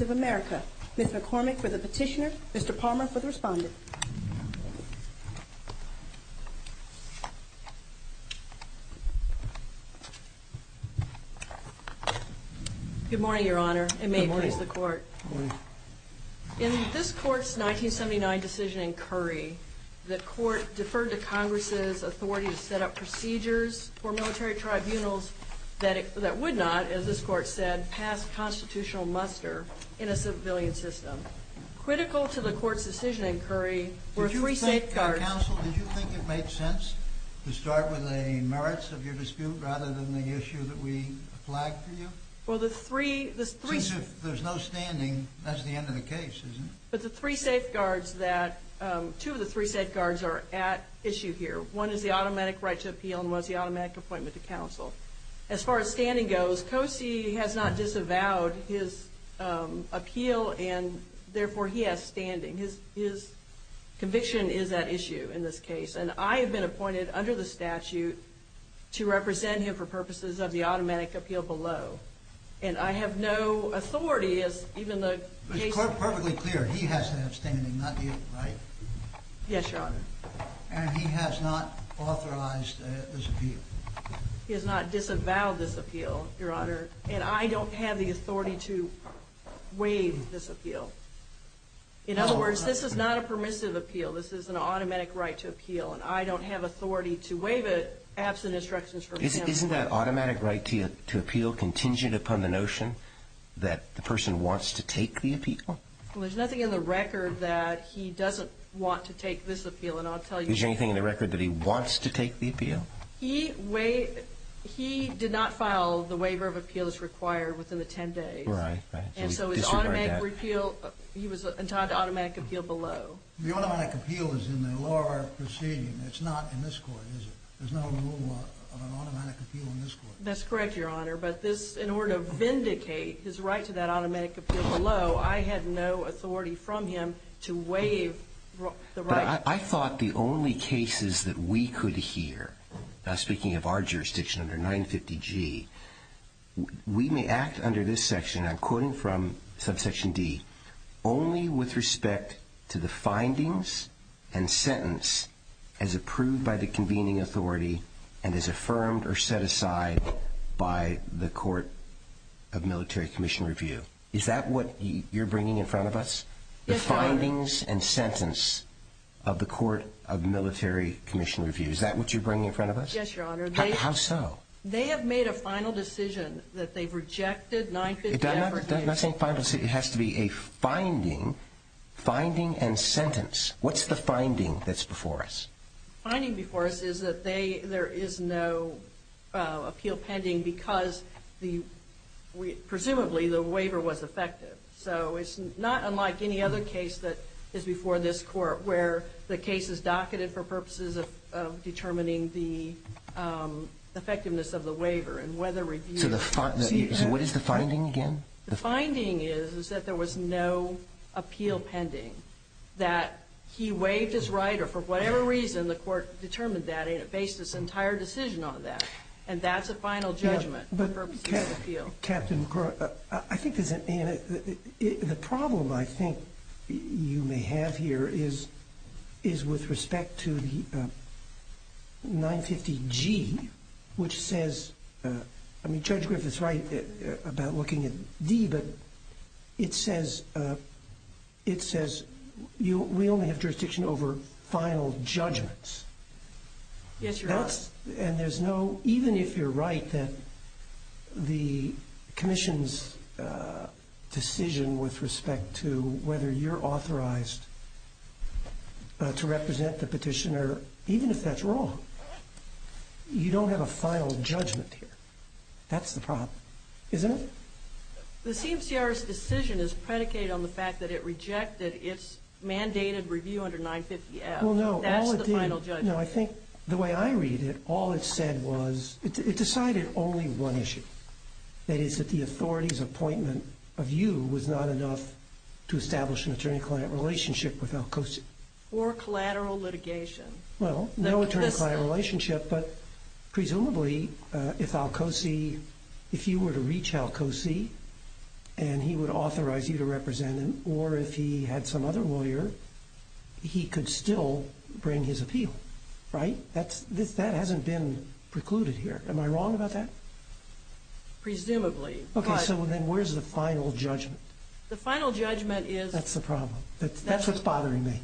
of America. Ms. McCormick for the petitioner, Mr. Palmer for the respondent. Good morning, Your Honor, and may it please the court. In this court's 1979 decision in Curry, there were three safeguards that would not, as this court said, pass constitutional muster in a civilian system. Critical to the court's decision in Curry were three safeguards that two of the three safeguards are at issue here. One of them is that the military tribunals would not pass. One is the automatic right to appeal, and one is the automatic appointment to counsel. As far as standing goes, Qosi has not disavowed his appeal, and therefore he has standing. His conviction is at issue in this case, and I have been appointed under the statute to represent him for purposes of the automatic appeal below. And I have no authority as even the case... It's perfectly clear, he has to have standing, not the right. Yes, Your Honor. And he has not authorized this appeal. He has not disavowed this appeal, Your Honor, and I don't have the authority to waive this appeal. In other words, this is not a permissive appeal. This is an automatic right to appeal, and I don't have authority to waive it absent instructions from him. Isn't that automatic right to appeal contingent upon the notion that the person wants to take the appeal? Well, there's nothing in the record that he doesn't want to take this appeal, and I'll tell you... Is there anything in the record that he wants to take the appeal? He did not file the waiver of appeals required within the 10 days. Right, right. And so his automatic repeal, he was entitled to automatic appeal below. The automatic appeal is in the law proceeding. It's not in this court, is it? There's no rule of an automatic appeal in this court. That's correct, Your Honor, but this, in order to vindicate his right to that automatic appeal below, I had no authority from him to waive the right... But I thought the only cases that we could hear, now speaking of our jurisdiction under 950G, we may act under this section, I'm quoting from subsection D, only with respect to the findings and sentence as approved by the convening authority and as affirmed or set aside by the court of military commission review. Is that what you're bringing in front of us? The findings and sentence of the court of military commission review. Is that what you're bringing in front of us? Yes, Your Honor. How so? They have made a final decision that they've rejected 950... I'm not saying final decision, it has to be a finding, finding and sentence. What's the finding that's before us? The finding before us is that there is no appeal pending because presumably the waiver was effective. So it's not unlike any other case that is before this court where the case is docketed for purposes of determining the effectiveness of the waiver and whether review... So what is the finding again? The finding is that there was no appeal pending, that he waived his right or for whatever reason the court determined that and it based its entire decision on that. And that's a final judgment for purposes of appeal. Captain, I think the problem I think you may have here is, is with respect to the 950 G, which says, I mean, Judge Griffith is right about looking at D, but it says, it says, we only have jurisdiction over final judgments. Yes, Your Honor. And there's no, even if you're right that the commission's decision with respect to whether you're authorized to represent the petitioner, even if that's wrong, you don't have a final judgment here. That's the problem, isn't it? The CMCR's decision is predicated on the fact that it rejected its mandated review under 950 F. Well, no. That's the final judgment. No, I think the way I see it, there's only one issue. That is that the authority's appointment of you was not enough to establish an attorney-client relationship with Alcosi. Or collateral litigation. Well, no attorney-client relationship, but presumably if Alcosi, if you were to reach Alcosi and he would authorize you to represent him, or if he had some other lawyer, he could still bring his appeal, right? That hasn't been precluded here. Am I wrong about that? Presumably. Okay, so then where's the final judgment? The final judgment is... That's the problem. That's what's bothering me.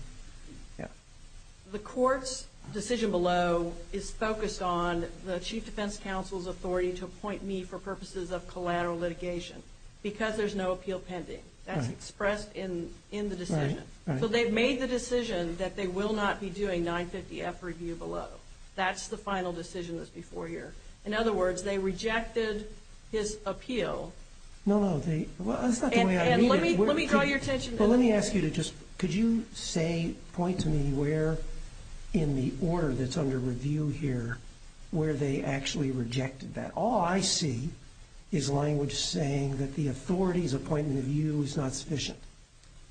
Yeah. The court's decision below is focused on the Chief Defense Counsel's authority to appoint me for purposes of collateral litigation, because there's no appeal pending. That's expressed in the decision. So they've made the decision that they will not be doing 950 F review below. That's the final decision that's before here. In other words, they rejected his appeal. No, no. Well, that's not the way I mean it. Let me draw your attention to... Well, let me ask you to just... Could you say, point to me where in the order that's under review here, where they actually rejected that? All I see is language saying that the authority's appointment of you is not sufficient.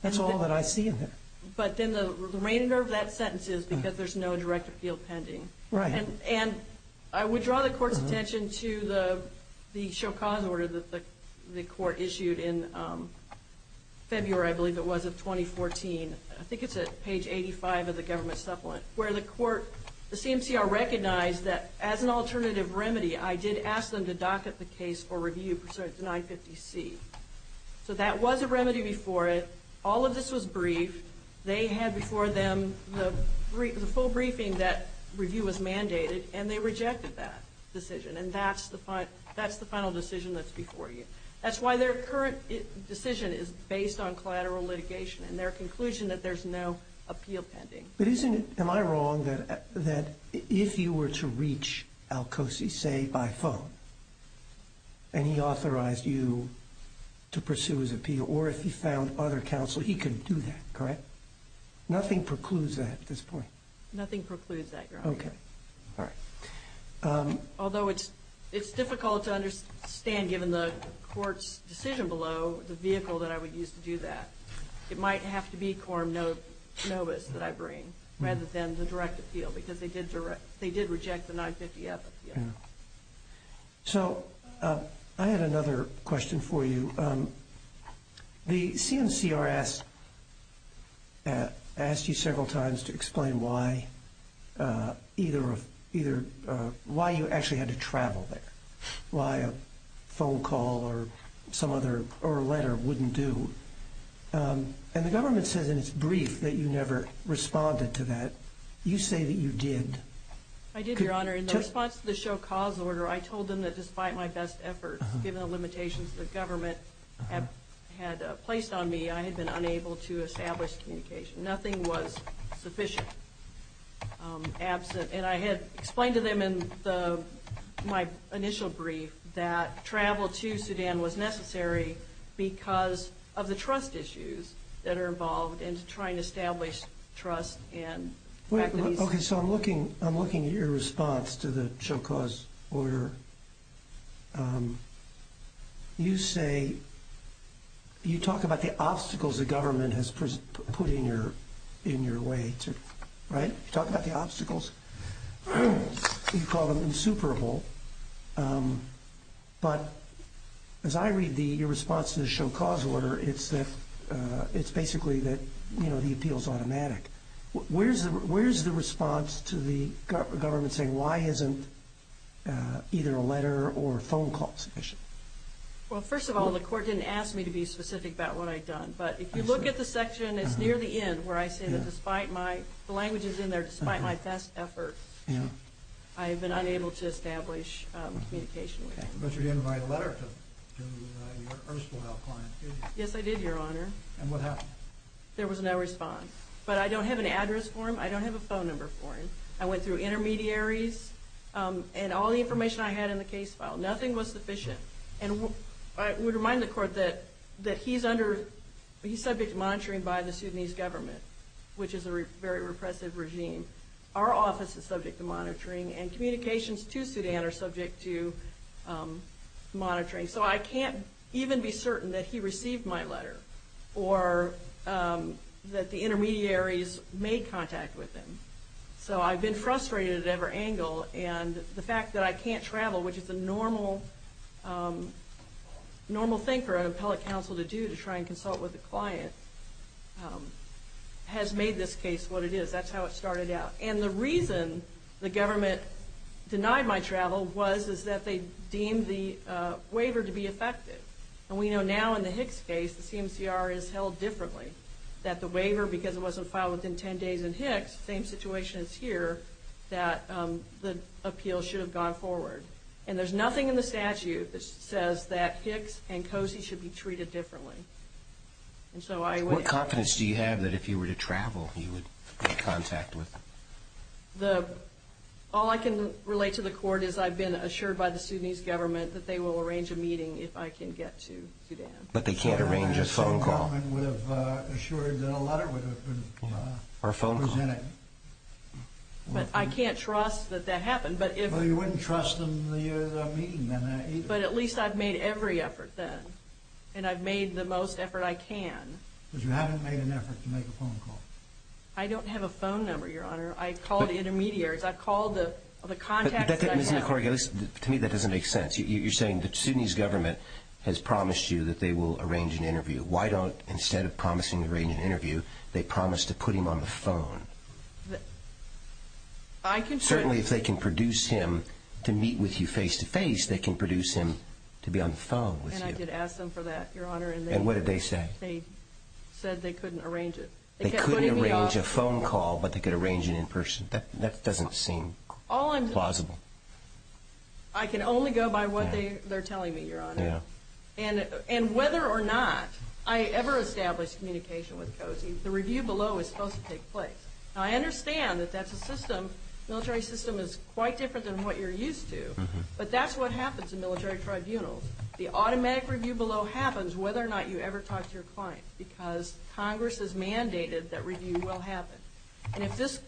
That's all that I see in there. But then the remainder of that sentence is because there's no direct appeal pending. Right. And I would draw the court's attention to the the show cause order that the court issued in February, I believe it was, of 2014. I think it's at page 85 of the government supplement, where the court, the CMCR recognized that as an alternative So that was a remedy before it. All of this was briefed. They had before them the full briefing that review was mandated, and they rejected that decision. And that's the final decision that's before you. That's why their current decision is based on collateral litigation and their conclusion that there's no appeal pending. But isn't it... Am I wrong that if you were to reach Alcosi, say, by phone, and he authorized you to pursue his appeal, or if he found other counsel, he couldn't do that, correct? Nothing precludes that at this point. Nothing precludes that, Your Honor. Okay. All right. Although it's difficult to understand, given the court's decision below, the vehicle that I would use to do that. It might have to be Quorum Novus that I appeal, because they did reject the 950F appeal. So I had another question for you. The CMCR asked you several times to explain why you actually had to travel there, why a phone call or a letter wouldn't do. And the government says in its brief that you never responded to that. You say that you did. I did, Your Honor. In the response to the Show Cause order, I told them that despite my best efforts, given the limitations that the government had placed on me, I had been unable to establish communication. Nothing was sufficient, absent. And I had explained to them in my initial brief that travel to Sudan was necessary because of the trust issues that are involved in trying to establish trust. Okay. So I'm looking at your response to the Show Cause order. You say, you talk about the obstacles the government has put in your way, right? You talk about the Show Cause order. It's basically that the appeal is automatic. Where's the response to the government saying, why isn't either a letter or a phone call sufficient? Well, first of all, the court didn't ask me to be specific about what I'd done. But if you look at the section, it's near the end, where I say that despite my, the language is in there, despite my best efforts, I have been unable to establish communication with them. But you did invite a letter to your erstwhile client, did you? Yes, I did, Your Honor. And what happened? There was no response. But I don't have an address for him. I don't have a phone number for him. I went through intermediaries and all the information I had in the case file. Nothing was sufficient. And I would remind the court that he's subject to monitoring by the Sudanese government, which is a very repressive regime. Our office is subject to monitoring and communications to Sudan are subject to monitoring. So I can't even be certain that he received my letter or that the intermediaries made contact with him. So I've been frustrated at every angle. And the fact that I can't travel, which is a normal thing for an appellate counsel to do, to try and consult with the client, has made this case what it is. That's how it started out. And the reason the government denied my travel was, is that they deemed the waiver to be effective. And we know now in the Hicks case, the CMCR is held differently, that the waiver, because it wasn't filed within 10 days in Hicks, same situation as here, that the appeal should have gone forward. And there's nothing in the statute that says that Hicks and Cozy should be treated differently. And so I... What confidence do you have that if you were to travel, you would get contact with him? The... All I can relate to the court is I've been assured by the Sudanese government that they will arrange a meeting if I can get to Sudan. But they can't arrange a phone call. The Sudanese government would have assured that a letter would have been presented. But I can't trust that that happened. But if... Well, you wouldn't trust them the meeting then either. But at least I've made every effort then. And I've made the most effort I can. But you haven't made an effort to make a phone call. I don't have a phone number, Your Honor. I've called intermediaries. I've called the... The contacts that I've had. Ms. McCorrigan, to me that doesn't make sense. You're saying the Sudanese government has promised you that they will arrange an interview. Why don't, instead of promising to arrange an interview, they promise to put him on the phone? I can... Certainly if they can produce him to meet with you face to face, they can produce him to be on the phone with you. And I did ask them for that, Your Honor. And what did they say? They said they couldn't arrange it. They couldn't arrange a phone call, but they could arrange it in person. That doesn't seem plausible. I can only go by what they're telling me, Your Honor. And whether or not I ever establish communication with COSI, the review below is supposed to take place. Now, I understand that that's a system, military system is quite different than what you're used to. But that's what happens in military tribunals. The automatic review below happens whether or not you ever talk to your client, because Congress has mandated that review will happen. And if this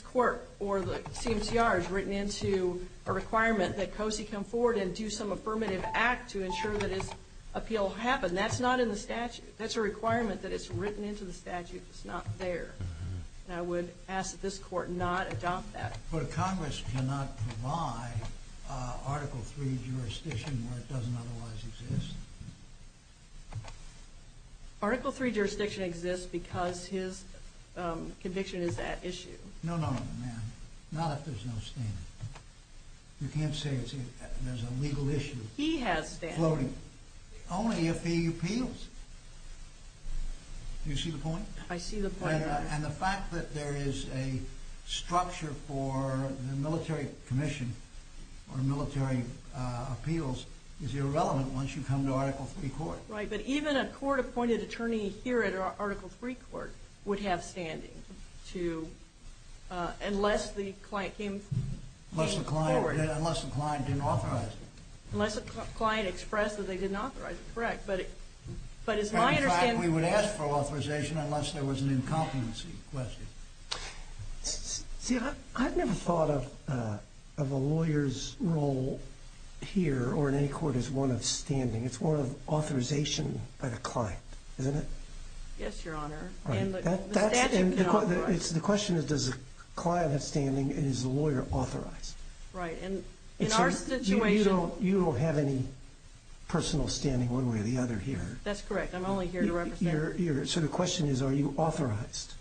court or the CMCR is written into a requirement that COSI come forward and do some affirmative act to ensure that its appeal happens, that's not in the statute. That's a requirement that it's written into the statute. It's not there. And I would ask that this court not adopt that. But Congress cannot provide Article III jurisdiction where it doesn't otherwise exist. Article III jurisdiction exists because his conviction is at issue. No, no, no, ma'am. Not if there's no standing. You can't say there's a legal issue. He has standing. Only if he appeals. I see the point, Your Honor. And the fact that there is a structure for the military commission or military appeals is irrelevant once you come to Article III court. Right, but even a court-appointed attorney here at Article III court would have standing unless the client came forward. Unless the client didn't authorize it. Unless the client expressed that they didn't authorize it, correct. But it's my understanding... See, I've never thought of a lawyer's role here or in any court as one of standing. It's one of authorization by the client, isn't it? Yes, Your Honor. The question is, does the client have standing and is the lawyer authorized? Right, and in our situation... You don't have any personal standing one way or the other here. That's correct. I'm only here to represent... So the question is, are you authorized?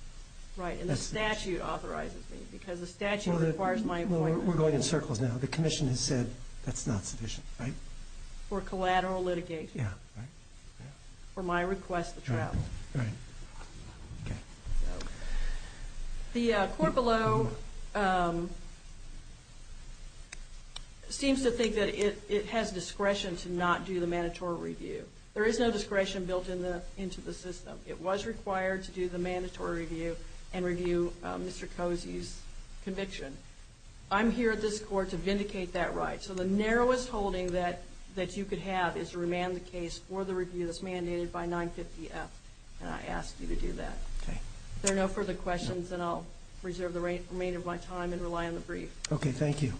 Right, and the statute authorizes me because the statute requires my appointment. We're going in circles now. The commission has said that's not sufficient, right? For collateral litigation. Yeah, right. For my request of trial. Right, okay. The court below seems to think that it has discretion to not do the mandatory review. There is no discretion built into the system. It was required to do the mandatory review and review Mr. Cozy's conviction. I'm here at this court to vindicate that right. So the narrowest holding that you could have is to remand the case for the review that's mandated by 950F and I ask you to do that. Okay. There are no further questions and I'll reserve the remainder of my time and rely on the brief. Okay, thank you.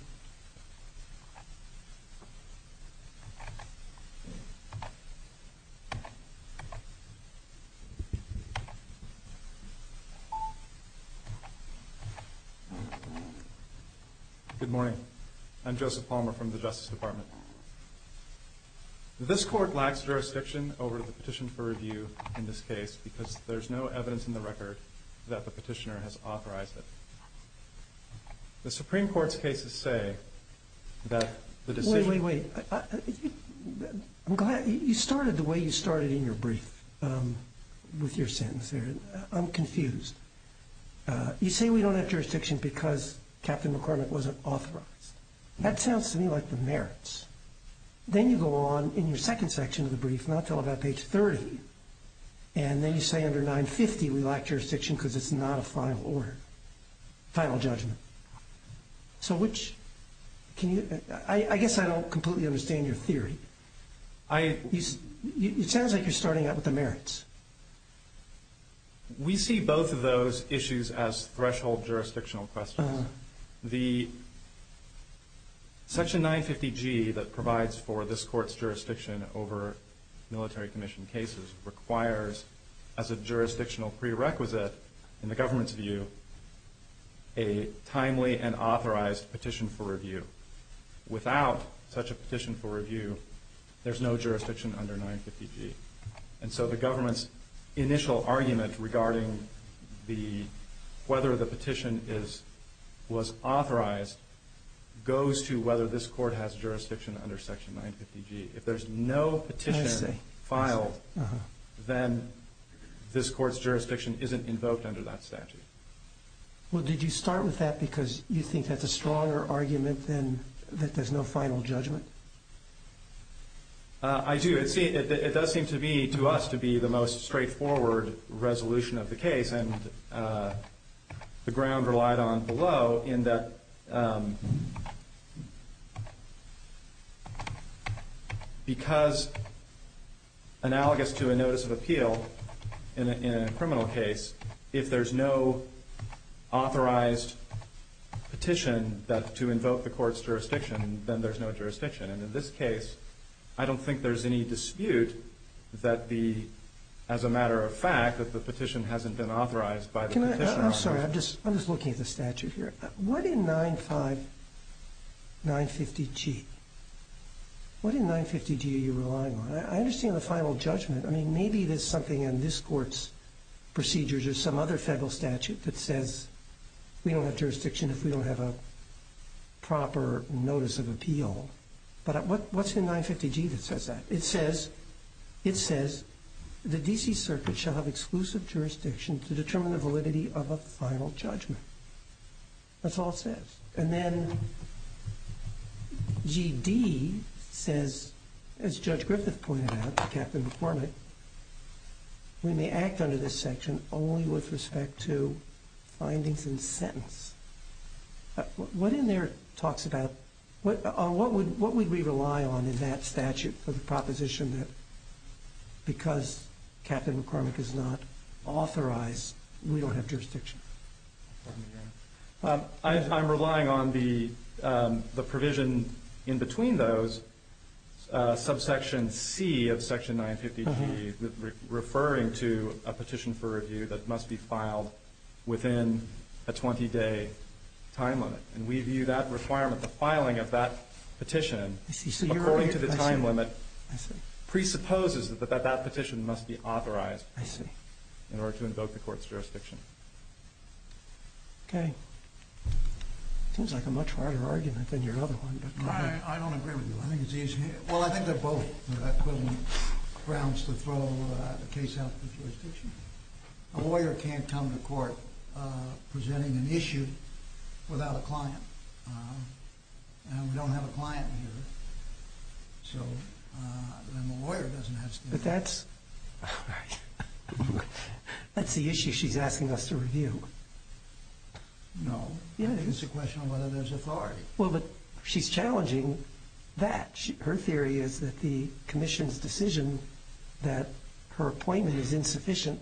Good morning. I'm Joseph Palmer from the Justice Department. This court lacks jurisdiction over the petition for review in this case because there's no evidence in the record that the petitioner has authorized it. The Supreme Court's cases say that the decision... Wait, wait, wait. I'm glad you started the way you started in your brief with your sentence there. I'm confused. You say we don't have jurisdiction because Captain McCormick wasn't authorized. That sounds to me like the merits. Then you go on in your second section of the brief not till about page 30 and then you say under 950 we lack jurisdiction because it's not a final order, final judgment. So which... I guess I don't completely understand your theory. It sounds like you're starting out with the merits. We see both of those issues as threshold jurisdictional questions. Section 950G that provides for this court's jurisdiction over military commission cases requires as a jurisdictional prerequisite in the government's view a timely and authorized petition for review. Without such a petition for review there's no jurisdiction under 950G. So the government's initial argument regarding whether the petition was authorized goes to whether this court has jurisdiction under section 950G. If there's no petition filed then this court's jurisdiction isn't invoked under that statute. Well did you start with that because you think that's a stronger argument than that there's no final judgment? I do. It does seem to be to us to be the most straightforward resolution of the case and the ground relied on below in that because analogous to a notice of appeal in a criminal case if there's no authorized petition to invoke the court's jurisdiction then there's no jurisdiction. And in this case I don't think there's any dispute that the, as a matter of fact, that I'm sorry I'm just looking at the statute here. What in 950G are you relying on? I understand the final judgment. I mean maybe there's something in this court's procedures or some other federal statute that says we don't have jurisdiction if we don't have a proper notice of appeal. But what's in 950G that says that? It says the D.C. Circuit shall have exclusive jurisdiction to determine the validity of a final judgment. That's all it says. And then G.D. says, as Judge Griffith pointed out, Captain McCormick, we may act under this section only with respect to findings and sentence. What in there talks about, what would we rely on in that statute for the proposition that because Captain McCormick is not authorized we don't have jurisdiction? I'm relying on the provision in between those, subsection C of section 950G referring to a petition for review that must be filed within a 20-day time limit. And we view that requirement, the filing of that petition, according to the time limit, presupposes that that petition must be authorized in order to invoke the court's jurisdiction. Okay. Seems like a much harder argument than your other one. I don't agree with you. I think it's easier. Well, I think they're both equivalent grounds to throw a case out of the jurisdiction. A lawyer can't come to court presenting an issue without a client. And we don't have a client here. So then the lawyer doesn't have to. But that's the issue she's asking us to review. No. I think it's a question of whether there's authority. Well, but she's challenging that. Her theory is that the commission's decision that her appointment is insufficient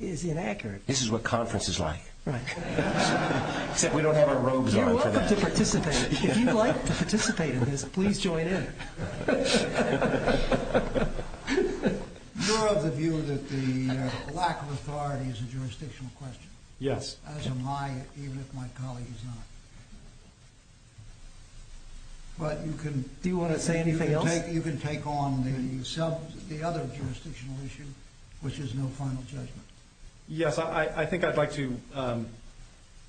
is inaccurate. This is what conference is like. Right. Except we don't have our robes on for that. You're welcome to participate. If you'd like to participate in this, please join in. You're of the view that the lack of authority is a jurisdictional question. Yes. As am I, even if my colleague is not. But you can... Do you want to say anything else? You can take on the other jurisdictional issue, which is no final judgment. Yes, I think I'd like to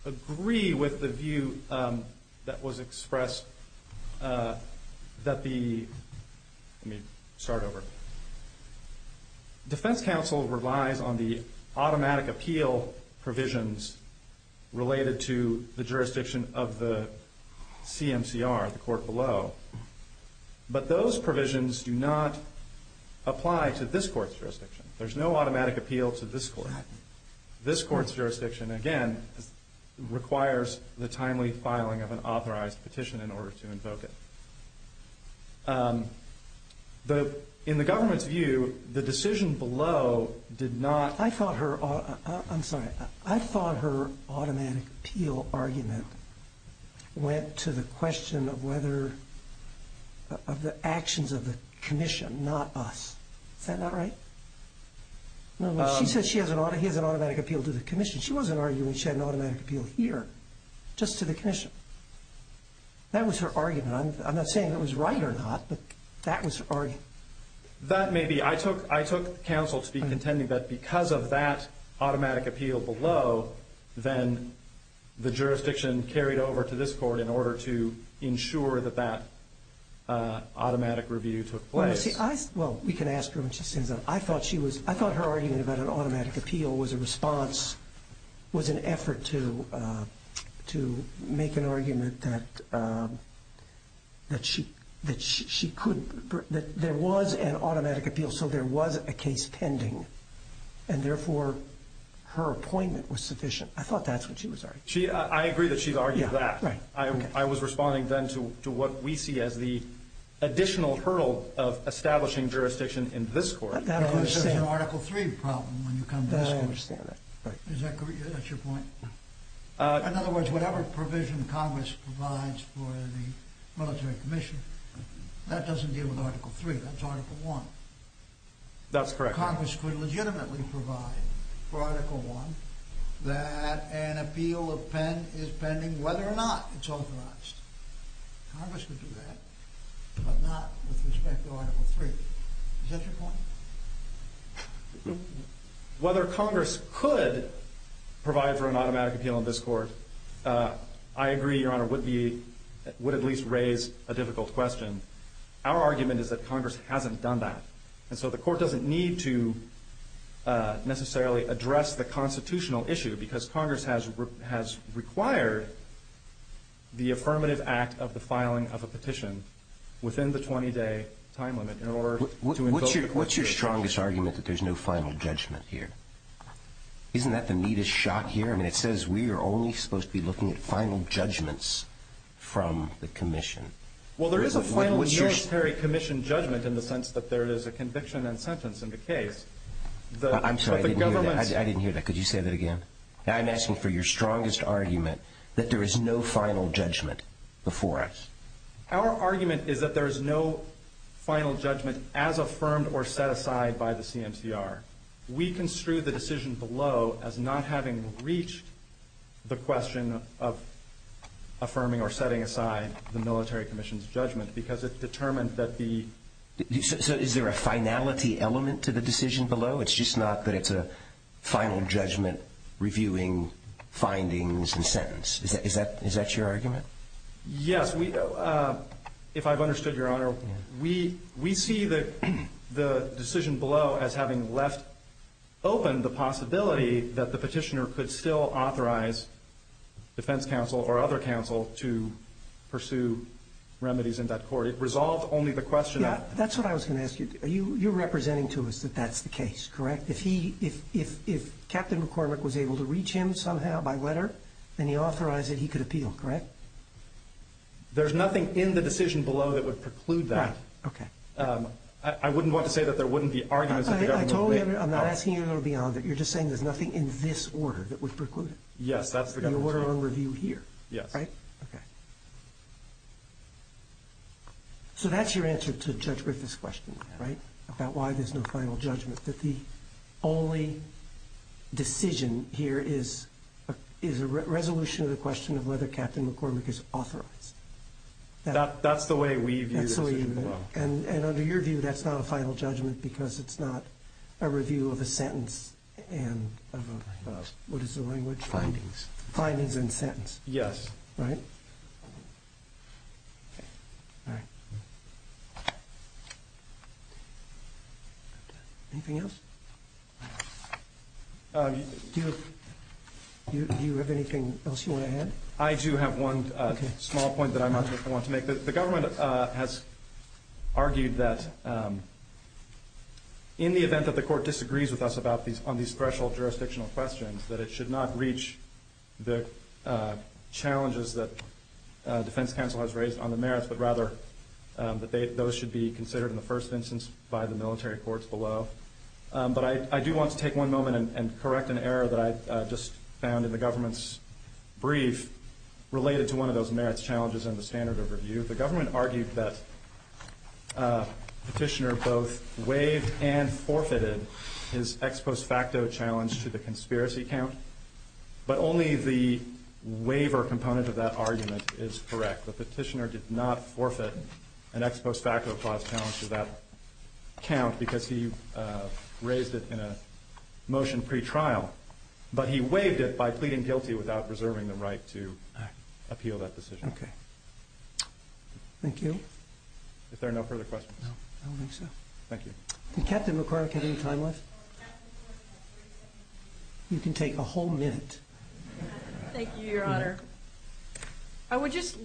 agree with the view that was expressed that the... Let me start over. Defense counsel relies on the automatic appeal provisions related to the jurisdiction of the court below, but those provisions do not apply to this court's jurisdiction. There's no automatic appeal to this court. This court's jurisdiction, again, requires the timely filing of an authorized petition in order to invoke it. In the government's view, the decision below did not... I'm sorry. I thought her automatic appeal argument went to the question of whether... Of the actions of the commission, not us. Is that not right? She said he has an automatic appeal to the commission. She wasn't arguing she had an automatic appeal here, just to the commission. That was her argument. I'm not saying it was right or not, but that was her argument. That may be. I took counsel to be contending that because of that automatic appeal below, then the jurisdiction carried over to this court in order to ensure that that automatic review took place. We can ask her when she stands up. I thought her argument about an automatic appeal was a response, was an effort to make an argument that there was an automatic appeal, so there was a case pending, and therefore, her appointment was sufficient. I thought that's what she was arguing. I agree that she's argued that. I was responding then to what we see as the additional hurdle of establishing jurisdiction in this court. Because there's an Article III problem when you come to this court. I understand that. That's your point? In other words, whatever provision Congress provides for the military commission, that doesn't deal with Article III. That's Article I. That's correct. Congress could legitimately provide for Article I that an appeal is pending whether or not it's authorized. Congress could do that, but not with respect to Article III. Is that your point? Whether Congress could provide for an automatic appeal in this court, I agree, Your Honor, would be, would at least raise a difficult question. Our argument is that Congress hasn't done that. And so the court doesn't need to necessarily address the constitutional issue, because Congress has required the affirmative act of the filing of a petition within the 20-day time limit in order to invoke the court's ruling. What's your strongest argument that there's no final judgment here? Isn't that the neatest shot here? I mean, it says we are only supposed to be looking at final judgments from the commission. Well, there is a final military commission judgment in the sense that there is a conviction and sentence in the case. I'm sorry, I didn't hear that. I didn't hear that. Could you say that again? I'm asking for your strongest argument that there is no final judgment before us. Our argument is that there is no final judgment as affirmed or set aside by the CMCR. We construe the decision below as not having reached the question of affirming or setting aside the military commission's judgment, because it determined that the... So is there a finality element to the decision below? It's just not that it's a final judgment reviewing findings and sentence. Is that your argument? Yes. If I've understood, Your Honor, we see that the decision below as having left open the possibility that the petitioner could still authorize defense counsel or other counsel to pursue remedies in that court. It resolved only the question of... That's what I was going to ask you. You're representing to us that that's the case, correct? If Captain McCormick was able to reach him somehow by letter, then he authorized that he could appeal, correct? There's nothing in the decision below that would preclude that. Right. Okay. I wouldn't want to say that there wouldn't be arguments... I told you, Your Honor, I'm not asking you to go beyond it. You're just saying there's nothing in this order that would preclude it. Yes, that's the... The order on review here. Yes. Right? Okay. So that's your answer to Judge Griffith's question, right? About why there's no final judgment, that the only decision here is a resolution of question of whether Captain McCormick is authorized. That's the way we view the decision below. And under your view, that's not a final judgment because it's not a review of a sentence and what is the language? Findings. Findings and sentence. Yes. Right? All right. Anything else? Do you have anything else you want to add? I do have one small point that I might want to make. The government has argued that in the event that the court disagrees with us on these threshold jurisdictional questions, that it should not reach the challenges that defense counsel has raised on the merits, but rather that those should be considered in the first instance by the military courts below. But I do want to take one moment and correct an error that I just found in the government's brief related to one of those merits challenges in the standard of review. The government argued that petitioner both waived and forfeited his ex post facto challenge to the conspiracy count, but only the waiver component of that argument is correct. The petitioner did not forfeit an ex post facto clause challenge to that count because he raised it in a motion pretrial, but he waived it by pleading guilty without reserving the right to appeal that decision. Okay. Thank you. If there are no further questions. No, I don't think so. Thank you. Did Captain McQuarrick have any time left? You can take a whole minute. Thank you, your honor. I would just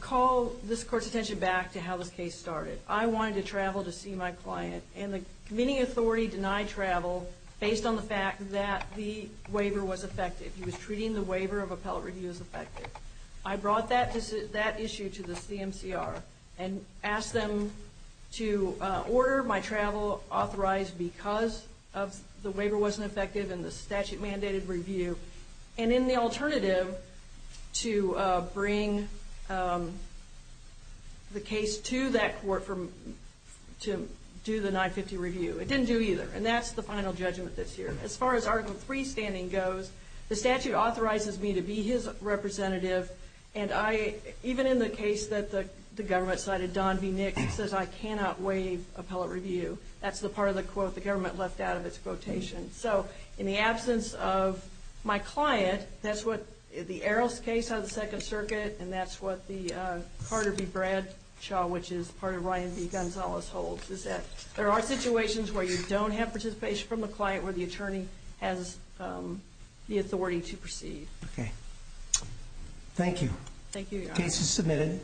call this court's attention back to how this case started. I wanted to travel to see my client and the committee authority denied travel based on the fact that the waiver was effective. He was treating the waiver of appellate review as effective. I brought that issue to the CMCR and asked them to order my travel authorized because of the waiver wasn't effective and the statute mandated review. And in the alternative to bring the case to that court to do the 950 review, it didn't do either. And that's the final judgment this year. As far as article three standing goes, the statute authorizes me to be his representative. And even in the case that the government cited, Don V. Nix says, I cannot waive appellate review. That's the part of the quote the government left out of its quotation. So in the absence of my client, that's what the Arrows case of the second circuit. And that's what the Carter v. Bradshaw, which is part of Ryan v. Gonzalez holds is that there are situations where you don't have participation from a client where the attorney has the authority to proceed. Okay. Thank you. Thank you, your honor. Case is submitted.